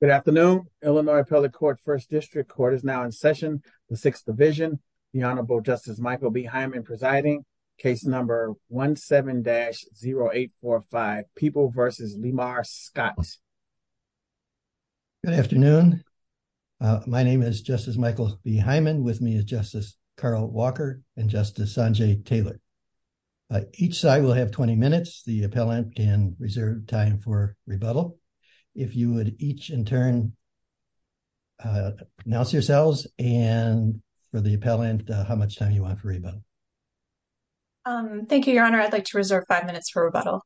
Good afternoon. Illinois Appellate Court First District Court is now in session. The Sixth Division, the Honorable Justice Michael B. Hyman presiding, case number 17-0845, People v. Lemar Scott. Good afternoon. My name is Justice Michael B. Hyman. With me is Justice Carl Walker and Justice Sanjay Taylor. Each side will have 20 minutes. The appellant can each in turn pronounce yourselves and for the appellant how much time you want for rebuttal. Thank you, your Honor. I'd like to reserve five minutes for rebuttal.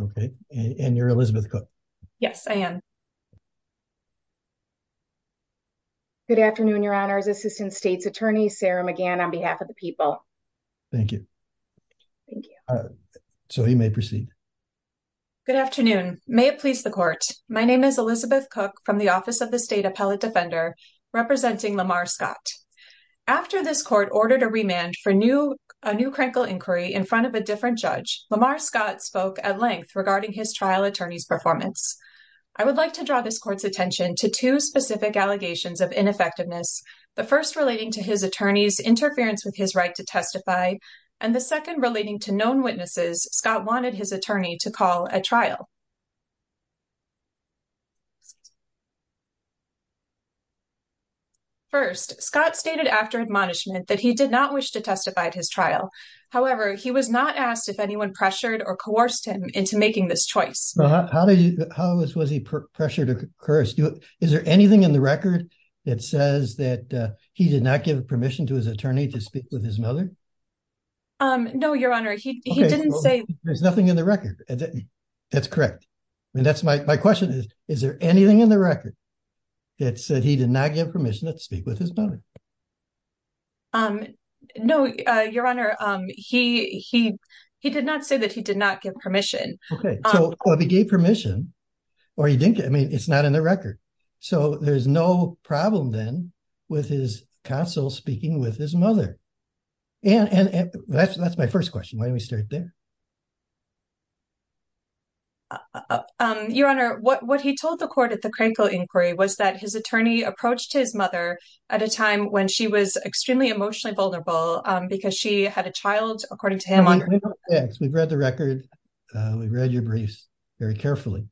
Okay. And you're Elizabeth Cook. Yes, I am. Good afternoon, your Honors. Assistant State's Attorney Sarah McGann on behalf of the people. Thank you. So you may proceed. Good afternoon. May it My name is Elizabeth Cook from the Office of the State Appellate Defender, representing Lemar Scott. After this court ordered a remand for a new crankle inquiry in front of a different judge, Lemar Scott spoke at length regarding his trial attorney's performance. I would like to draw this court's attention to two specific allegations of ineffectiveness, the first relating to his attorney's interference with his right to testify, and the second relating to known witnesses Scott wanted his attorney to call at trial. First, Scott stated after admonishment that he did not wish to testify at his trial. However, he was not asked if anyone pressured or coerced him into making this choice. How was he pressured or coerced? Is there anything in the record that says that he did attorney to speak with his mother? No, your Honor. He didn't say there's nothing in the record. That's correct. And that's my question. Is there anything in the record that said he did not give permission to speak with his mother? No, your Honor. He he he did not say that he did not give permission. Okay, so he gave permission. Or you think I mean, it's not in the record. So there's no problem then, with his counsel speaking with his mother. And that's that's my first question. Why don't we start there? Your Honor, what what he told the court at the Crankville inquiry was that his attorney approached his mother at a time when she was extremely emotionally vulnerable, because she had a child according to him. We've read the record. We read your briefs very carefully.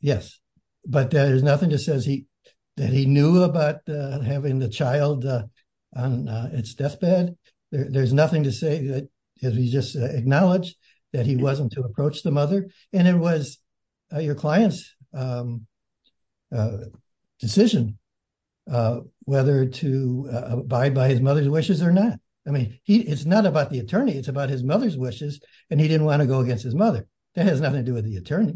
Yes. But there's nothing to say that he knew about having the child on its deathbed. There's nothing to say that he just acknowledged that he wasn't to approach the mother. And it was your client's decision whether to abide by his mother's wishes or not. I mean, it's not about the mother's wishes. And he didn't want to go against his mother. That has nothing to do with the attorney.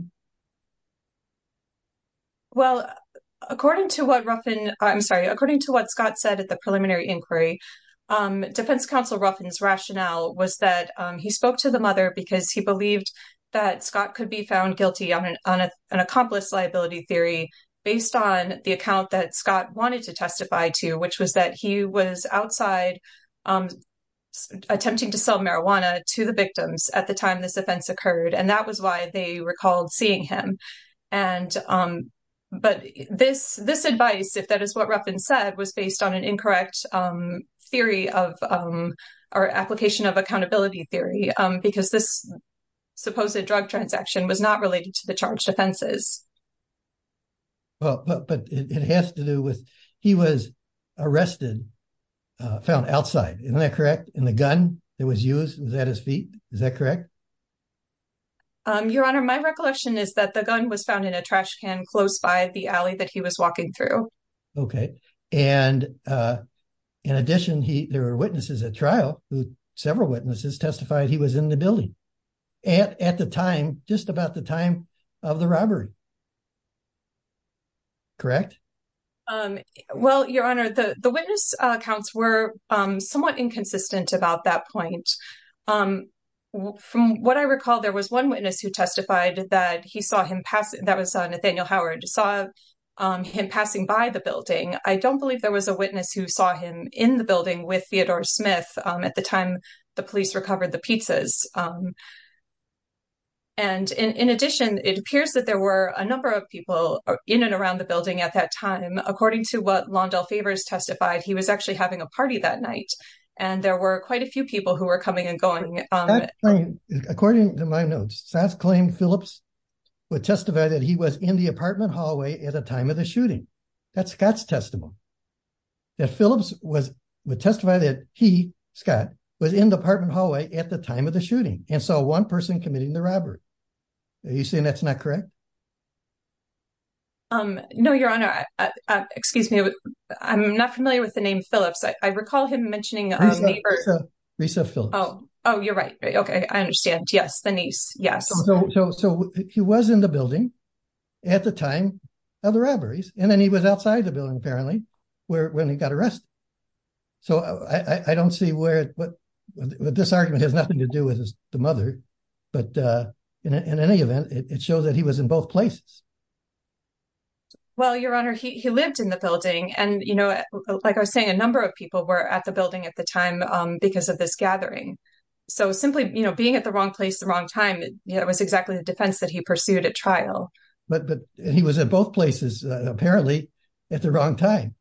Well, according to what Ruffin, I'm sorry, according to what Scott said at the preliminary inquiry, Defense Counsel Ruffin's rationale was that he spoke to the mother because he believed that Scott could be found guilty on an on an accomplice liability theory, based on the account that Scott wanted to testify to, which was that he was outside attempting to sell marijuana to the victims at the time this offense occurred. And that was why they were called seeing him. And but this this advice, if that is what Ruffin said, was based on an incorrect theory of our application of accountability theory, because this supposed a drug transaction was not related to the charged offenses. But it has to do with he was arrested, found outside, isn't that correct? And the gun that was used was at his feet. Is that correct? Your Honor, my recollection is that the gun was found in a trash can close by the alley that he was walking through. Okay. And in addition, he there were witnesses at trial who several witnesses testified he was in the building at the time, just about the time of the robbery. Correct. Well, Your Honor, the witness accounts were somewhat inconsistent about that point. From what I recall, there was one witness who testified that he saw him pass. That was Nathaniel Howard, saw him passing by the building. I don't believe there was a witness who saw him in the building with Theodore Smith at the time the police recovered the pizzas. And in addition, it appears that there were a number of people in and around the building at that time, according to what Lawndell Favors testified, he was actually having a party that night. And there were quite a few people who were coming and going. According to my notes, Sass claimed Phillips would testify that he was in the apartment hallway at the time of the shooting. That's Scott's testimony. That Phillips was testified that he, Scott, was in the apartment hallway at the time of the shooting and saw one person committing the robbery. Are you saying that's not correct? No, Your Honor, excuse me, I'm not familiar with the name Phillips. I recall him mentioning his neighbor, Risa Phillips. Oh, oh, you're right. OK, I understand. Yes, the niece. Yes. So he was in the building at the time of the robberies. And then he was outside the building, apparently, when he got arrested. So I don't see where this argument has nothing to do with the mother. But in any event, it shows that he was in both places. Well, Your Honor, he lived in the building and, you know, like I was saying, a number of people were at the building at the time because of this gathering. So simply, you know, being at the wrong place the wrong time, it was exactly the defense that he pursued at trial. But he was at both places, apparently, at the wrong time.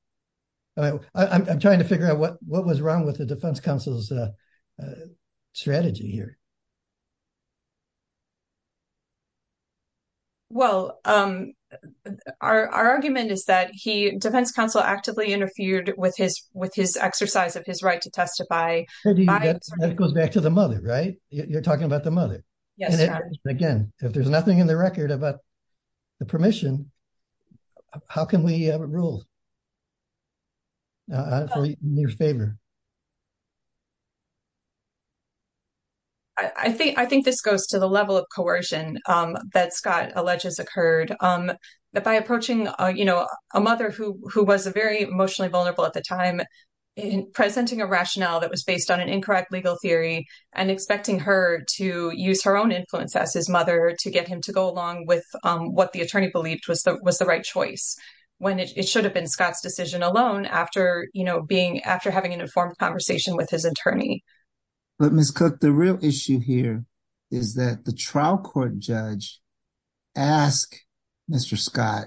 I'm trying to figure out what what was wrong with the defense counsel's strategy here. Well, our argument is that he defense counsel actively interfered with his with his exercise of his right to testify. That goes back to the mother, right? You're talking about the mother. Yes. And again, if there's nothing in the record about the permission, how can we have a rule? In your favor. I think I think this goes to the level of coercion that Scott alleges occurred that by approaching, you know, a mother who who was a very emotionally vulnerable at the time in presenting a rationale that was based on an incorrect legal theory and expecting her to use her own influence as his mother to get him to go along with what the attorney believed was the was the right choice when it should have been Scott's decision alone after, you know, being after having an informed conversation with his attorney. But Miss Cook, the real issue here is that the trial court judge asked Mr. Scott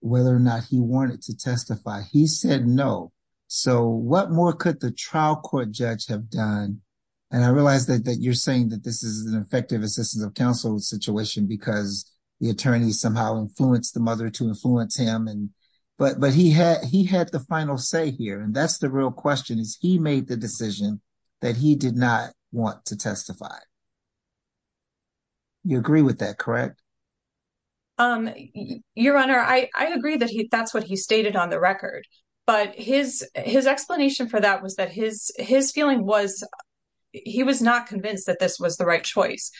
whether or not he wanted to testify. He said no. So what more could the trial court judge have done? And I realize that you're saying that this is an effective assistance of counsel situation because the attorney somehow influenced the mother to influence him. And but but he had he had the final say here. And that's the real question is he made the decision that he did not want to testify. You agree with that, correct? Your Honor, I agree that that's what he stated on the record, but his his explanation for that was that his his feeling was he was not convinced that this was the right choice.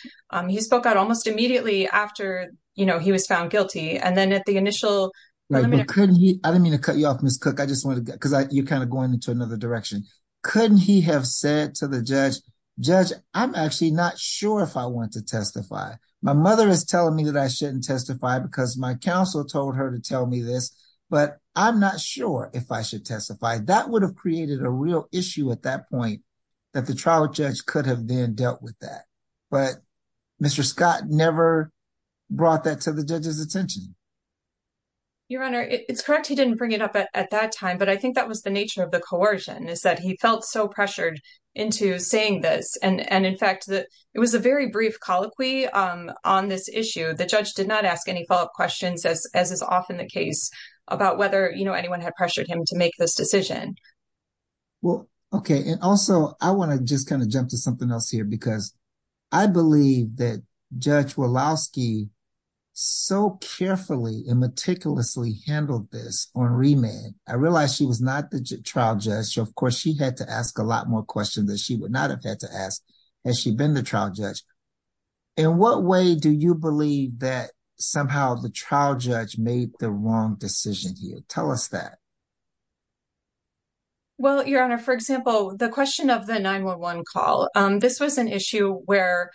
He spoke out almost immediately after he was found guilty. And then at the initial. I don't mean to cut you off, Miss Cook, I just want to because you're kind of going into another direction. Couldn't he have said to the judge, judge, I'm actually not sure if I want to testify. My mother is telling me that I shouldn't testify because my counsel told her to tell me this, but I'm not sure if I should testify. That would have created a real issue at that point that the trial judge could have then dealt with that. But Mr. Scott never brought that to the judge's attention. Your Honor, it's correct, he didn't bring it up at that time, but I think that was the nature of the coercion is that he felt so pressured into saying this. And in fact, it was a very brief colloquy on this issue. The judge did not ask any follow up questions, as is often the case about whether anyone had pressured him to make this decision. Well, OK, and also I want to just kind of jump to something else here, because I believe that Judge Woloski so carefully and meticulously handled this on remand, I realized she was not the trial judge. So, of course, she had to ask a lot more questions that she would not have had to ask as she'd been the trial judge. In what way do you believe that somehow the trial judge made the wrong decision here? Tell us that. Well, Your Honor, for example, the question of the 9-1-1 call, this was an issue where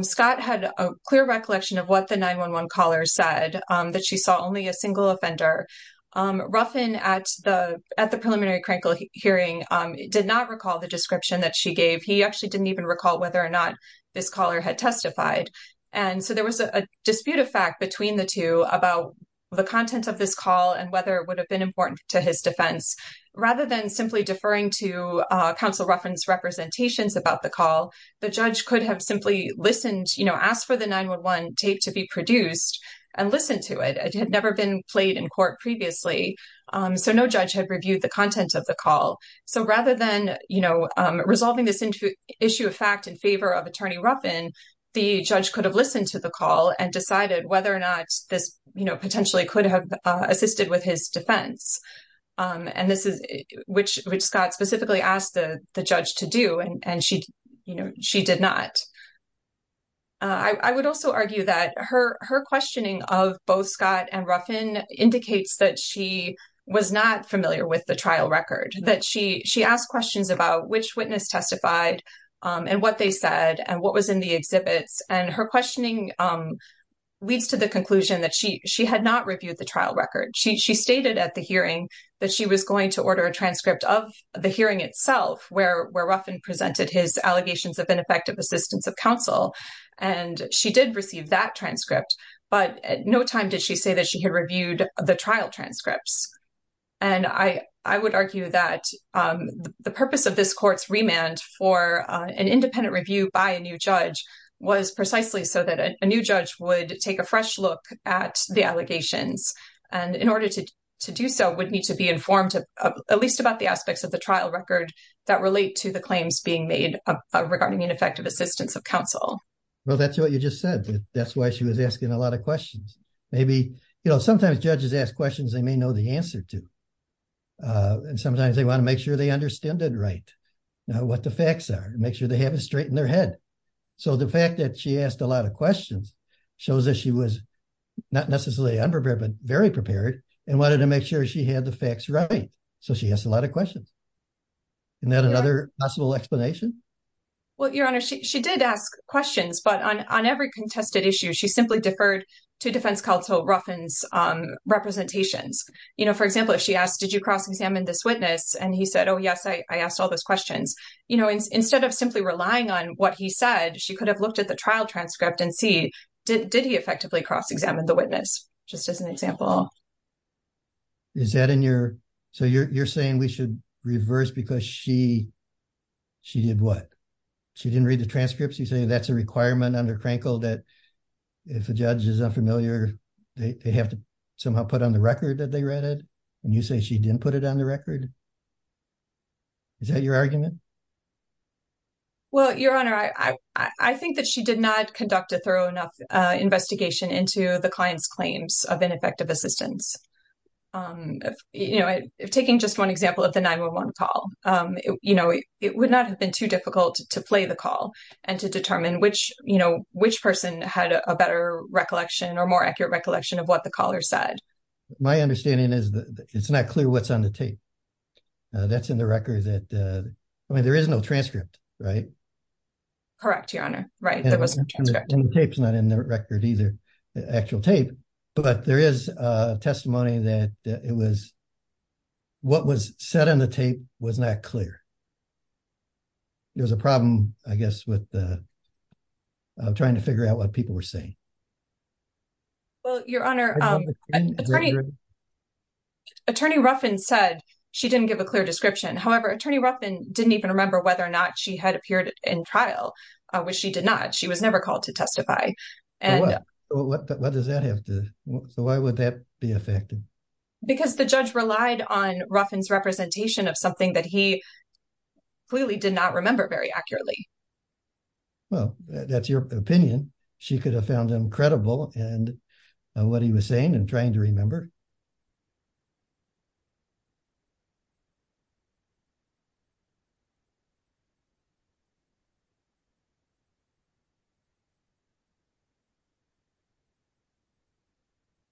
Scott had a clear recollection of what the 9-1-1 caller said, that she saw only a single offender. Ruffin at the at the preliminary hearing did not recall the description that she gave. He actually didn't even recall whether or not this caller had testified. And so there was a dispute of fact between the two about the content of this call and whether it would have been important to his defense. Rather than simply deferring to counsel Ruffin's representations about the call, the judge could have simply listened, you know, asked for the 9-1-1 tape to be produced and listened to it. It had never been played in court previously. So no judge had reviewed the content of the call. So rather than, you know, resolving this issue of fact in favor of Attorney Ruffin, the judge could have listened to the call and decided whether or not this potentially could have assisted with his defense. And this is which which Scott specifically asked the judge to do. And she, you know, she did not. I would also argue that her her questioning of both Scott and Ruffin indicates that she was not familiar with the trial record, that she she asked questions about which witness testified and what they said and what was in the exhibits. And her questioning leads to the conclusion that she she had not reviewed the trial record. She stated at the hearing that she was going to order a transcript of the hearing itself, where Ruffin presented his allegations of ineffective assistance of counsel. And she did receive that transcript. But at no time did she say that she had reviewed the trial transcripts. And I would argue that the purpose of this court's remand for an independent review by a new judge was precisely so that a new judge would take a fresh look at the allegations and in order to to do so would need to be informed, at least about the aspects of the trial record that relate to the claims being made regarding ineffective assistance of counsel. Well, that's what you just said. That's why she was asking a lot of questions. Maybe, you know, sometimes judges ask questions they may know the answer to. And sometimes they want to make sure they understand it right now, what the facts are and make sure they have it straight in their head. So the fact that she asked a lot of questions shows that she was not necessarily unprepared, but very prepared and wanted to make sure she had the facts right. So she has a lot of questions. And then another possible explanation. Well, Your Honor, she did ask questions, but on on every contested issue, she simply deferred to defense counsel Ruffin's representations. You know, for example, if she asked, did you cross examine this witness? And he said, oh, yes, I asked all those questions. You know, instead of simply relying on what he said, she could have looked at the trial transcript and see, did he effectively cross examine the witness? Just as an example. Is that in your. So you're saying we should reverse because she she did what? She didn't read the transcripts. You say that's a requirement under Crankle that if a judge is unfamiliar, they have to somehow put on the record that they read it. And you say she didn't put it on the record. Is that your argument? Well, Your Honor, I think that she did not conduct a thorough enough investigation into the client's claims of ineffective assistance. You know, if taking just one example of the 911 call, you know, it would not have been too difficult to play the call and to determine which you know, which person had a better recollection or more accurate recollection of what the caller said. My understanding is that it's not clear what's on the tape. That's in the record that I mean, there is no transcript, right? Correct, Your Honor. Right. There was no tape's not in the record either, the actual tape, but there is testimony that it was. What was said on the tape was not clear. It was a problem, I guess, with. Trying to figure out what people were saying. Well, Your Honor, Attorney Ruffin said she didn't give a clear description. However, Attorney Ruffin didn't even remember whether or not she had appeared in trial, which she did not. She was never called to testify. And what does that have to do? So why would that be effective? Because the judge relied on Ruffin's representation of something that he clearly did not remember very accurately. Well, that's your opinion. She could have found him credible and what he was saying and trying to remember.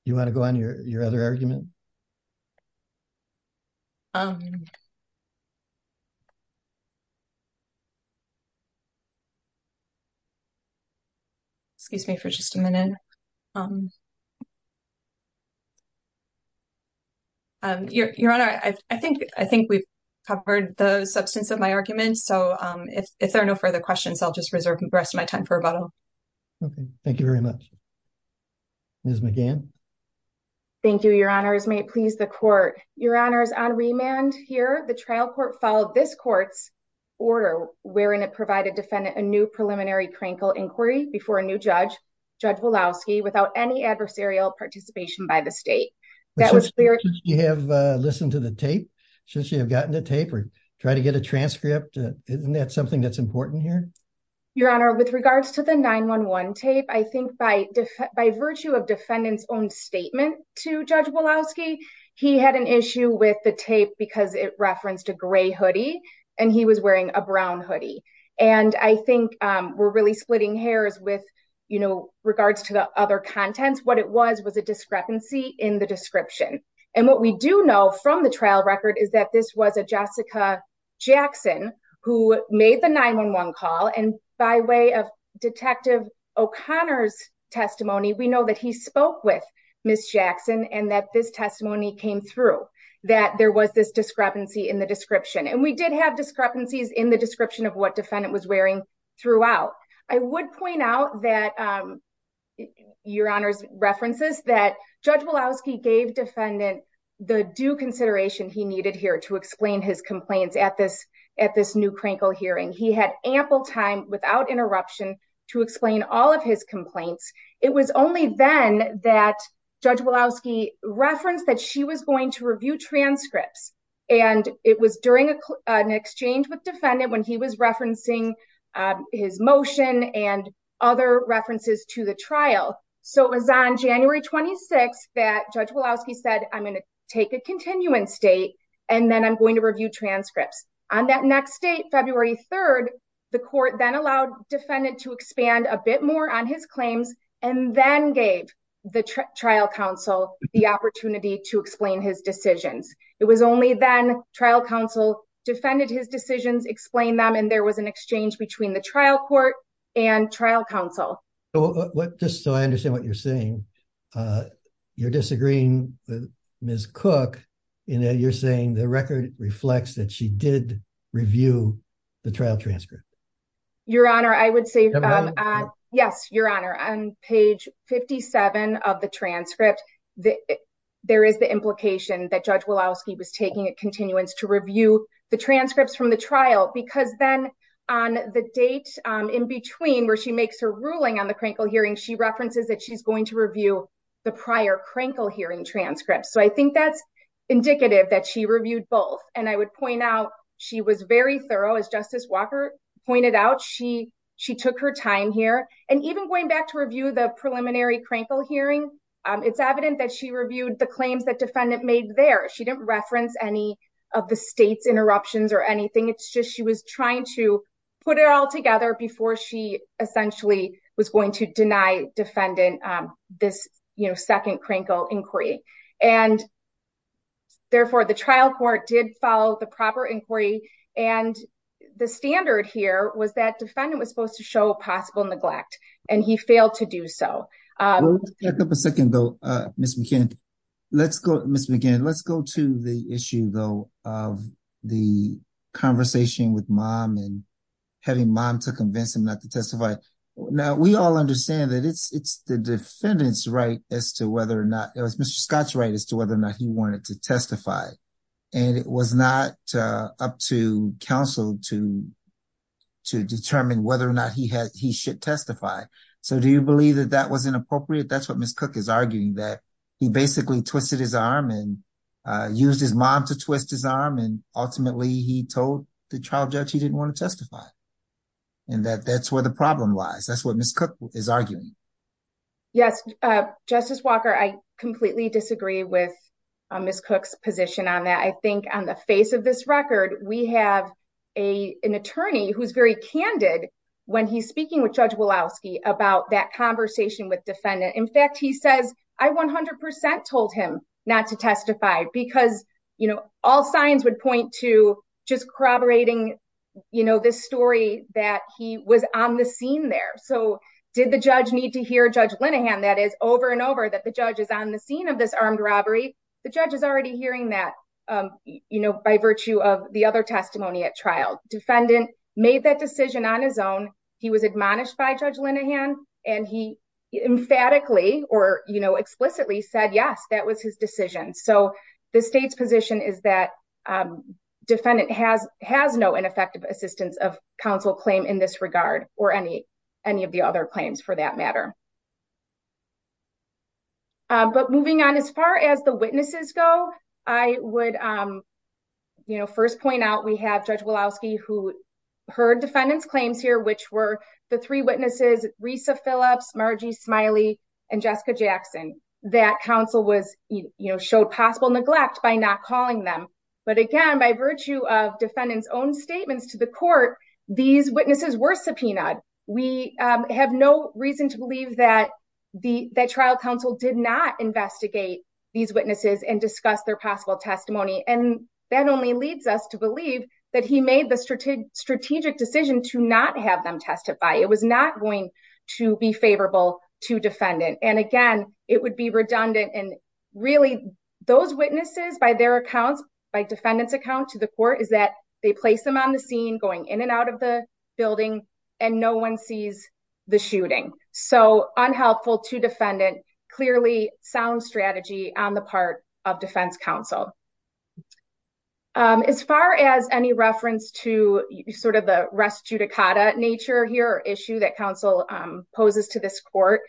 You want to go on your other argument? Excuse me for just a minute. Your Honor, I think I think we've covered the substance of my argument, so if there are no further questions, I'll just reserve the rest of my time for rebuttal. Thank you very much. Ms. McGann. Thank you, Your Honors, may it please the court, Your Honors, on remand here, the trial court followed this court's order, wherein it provided defendant a new judge, Judge Woloski, without any adversarial participation by the state. That was clear. You have listened to the tape since you have gotten the tape or try to get a transcript. Isn't that something that's important here? Your Honor, with regards to the 9-1-1 tape, I think by def by virtue of defendant's own statement to Judge Woloski, he had an issue with the tape because it referenced a gray hoodie and he was wearing a brown hoodie. And I think we're really splitting hairs with, you know, regards to the other contents, what it was, was a discrepancy in the description. And what we do know from the trial record is that this was a Jessica Jackson who made the 9-1-1 call and by way of Detective O'Connor's testimony, we know that he spoke with Ms. Jackson and that this testimony came through, that there was this discrepancy in the description. And we did have discrepancies in the description of what defendant was wearing throughout. I would point out that, um, your Honor's references that Judge Woloski gave defendant the due consideration he needed here to explain his complaints at this, at this new Krinkle hearing. He had ample time without interruption to explain all of his complaints. It was only then that Judge Woloski referenced that she was going to review transcripts. And it was during an exchange with defendant when he was referencing his motion and other references to the trial. So it was on January 26th that Judge Woloski said, I'm going to take a continuance date and then I'm going to review transcripts. On that next date, February 3rd, the court then allowed defendant to expand a bit more on his claims and then gave the trial counsel the opportunity to explain his decisions. It was only then trial counsel defended his decisions, explained them. And there was an exchange between the trial court and trial counsel. So just so I understand what you're saying, uh, you're disagreeing with Ms. Cook in that you're saying the record reflects that she did review the trial transcript. Your Honor, I would say, uh, yes, your Honor, on page 57 of the transcript, the, there is the implication that Judge Woloski was taking a continuance to review the transcripts from the trial because then on the date, um, in between where she makes her ruling on the crankle hearing, she references that she's going to review the prior crankle hearing transcripts. So I think that's indicative that she reviewed both. And I would point out she was very thorough as Justice Walker pointed out. She, she took her time here and even going back to review the preliminary crankle hearing, um, it's evident that she reviewed the claims that defendant made there. She didn't reference any of the state's interruptions or anything. It's just, she was trying to put it all together before she essentially was going to deny defendant, um, this, you know, second crankle inquiry and therefore the trial court did follow the proper inquiry. And the standard here was that defendant was supposed to show a possible neglect and he failed to do so. Let's take up a second though, uh, Ms. McKinnon, let's go, Ms. McKinnon, let's go to the issue though, of the conversation with mom and having mom to convince him not to testify. Now we all understand that it's, it's the defendant's right as to whether or not it was Mr. Scott's right as to whether or not he wanted to testify. And it was not, uh, up to counsel to, to determine whether or not he had, he should testify. So do you believe that that was inappropriate? That's what Ms. Cook is arguing that he basically twisted his arm and, uh, used his mom to twist his arm. And ultimately he told the trial judge he didn't want to testify and that that's where the problem lies. That's what Ms. Cook is arguing. Yes. Uh, Justice Walker, I completely disagree with Ms. Cook's position on that. I think on the face of this record, we have a, an attorney who's very candid when he's about that conversation with defendant. In fact, he says, I 100% told him not to testify because, you know, all signs would point to just corroborating, you know, this story that he was on the scene there. So did the judge need to hear judge Linehan that is over and over that the judge is on the scene of this armed robbery. The judge is already hearing that, um, you know, by virtue of the other testimony at trial, defendant made that decision on his own. He was admonished by judge Linehan and he emphatically or, you know, explicitly said, yes, that was his decision. So the state's position is that, um, defendant has, has no ineffective assistance of counsel claim in this regard or any, any of the other claims for that matter. Uh, but moving on as far as the witnesses go, I would, um, you know, first point out we have judge Woloski who heard defendant's claims here, which were the three witnesses, Risa Phillips, Margie Smiley, and Jessica Jackson, that counsel was, you know, showed possible neglect by not calling them. But again, by virtue of defendant's own statements to the court, these witnesses were subpoenaed. We have no reason to believe that the, that trial counsel did not investigate these witnesses and discuss their possible testimony. And that only leads us to believe that he made the strategic strategic decision to not have them testify. It was not going to be favorable to defendant. And again, it would be redundant. And really those witnesses by their accounts, by defendant's account to the court is that they place them on the scene going in and out of the building and no one sees the shooting. So unhelpful to defendant, clearly sound strategy on the part of defense counsel. Um, as far as any reference to sort of the rest judicata nature here, issue that counsel, um, poses to this court,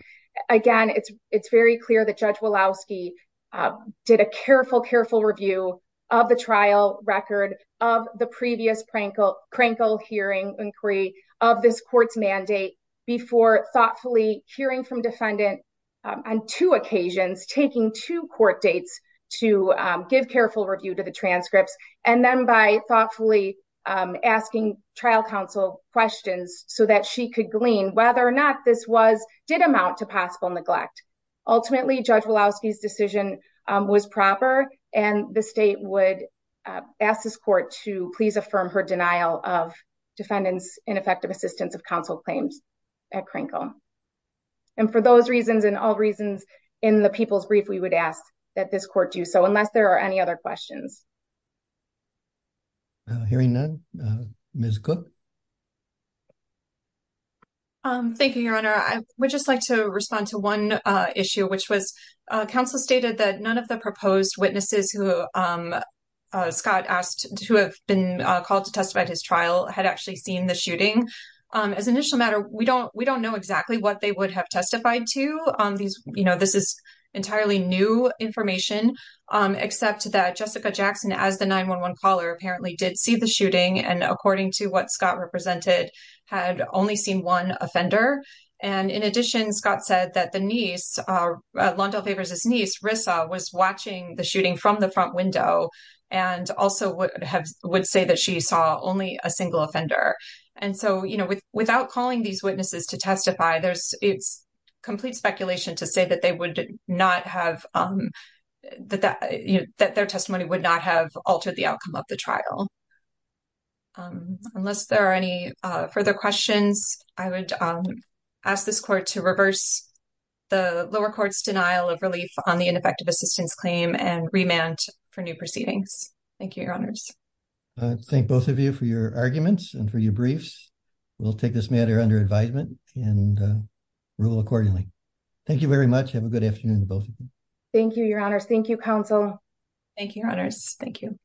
again, it's, it's very clear that judge Woloski, uh, did a careful, careful review of the trial record of the previous Prankle, Prankle hearing inquiry of this court's mandate before thoughtfully hearing from defendant on two occasions, taking two court dates to, um, give careful review to the transcripts and then by thoughtfully, um, asking trial counsel questions so that she could glean whether or not this was, did amount to possible neglect. Ultimately judge Woloski's decision was proper and the state would, uh, ask this court to please affirm her denial of defendant's ineffective assistance of counsel claims at Prankle. And for those reasons and all reasons in the people's brief, we would ask that this court, uh, give counsel the opportunity to respond to this court's questions. Hearing none, Ms. Cook. Um, thank you, your honor. I would just like to respond to one, uh, issue, which was, uh, counsel stated that none of the proposed witnesses who, um, uh, Scott asked to have been called to testify at his trial had actually seen the shooting. Um, as an issue matter, we don't, we don't know exactly what they would have testified to, um, these, you know, this is entirely new information. Um, except that Jessica Jackson, as the 911 caller apparently did see the shooting and according to what Scott represented had only seen one offender. And in addition, Scott said that the niece, uh, Londell Favors' niece, Rissa was watching the shooting from the front window and also would have, would say that she saw only a single offender. And so, you know, with, without calling these witnesses to testify, there's, it's complete speculation to say that they would not have, um, that that, you know, that their testimony would not have altered the outcome of the trial. Um, unless there are any, uh, further questions, I would, um, ask this court to reverse the lower court's denial of relief on the ineffective assistance claim and remand for new proceedings. Thank you, your honors. I thank both of you for your arguments and for your briefs. We'll take this matter under advisement and, uh, rule accordingly. Thank you very much. Have a good afternoon. Thank you, your honors. Thank you, counsel. Thank you, your honors. Thank you.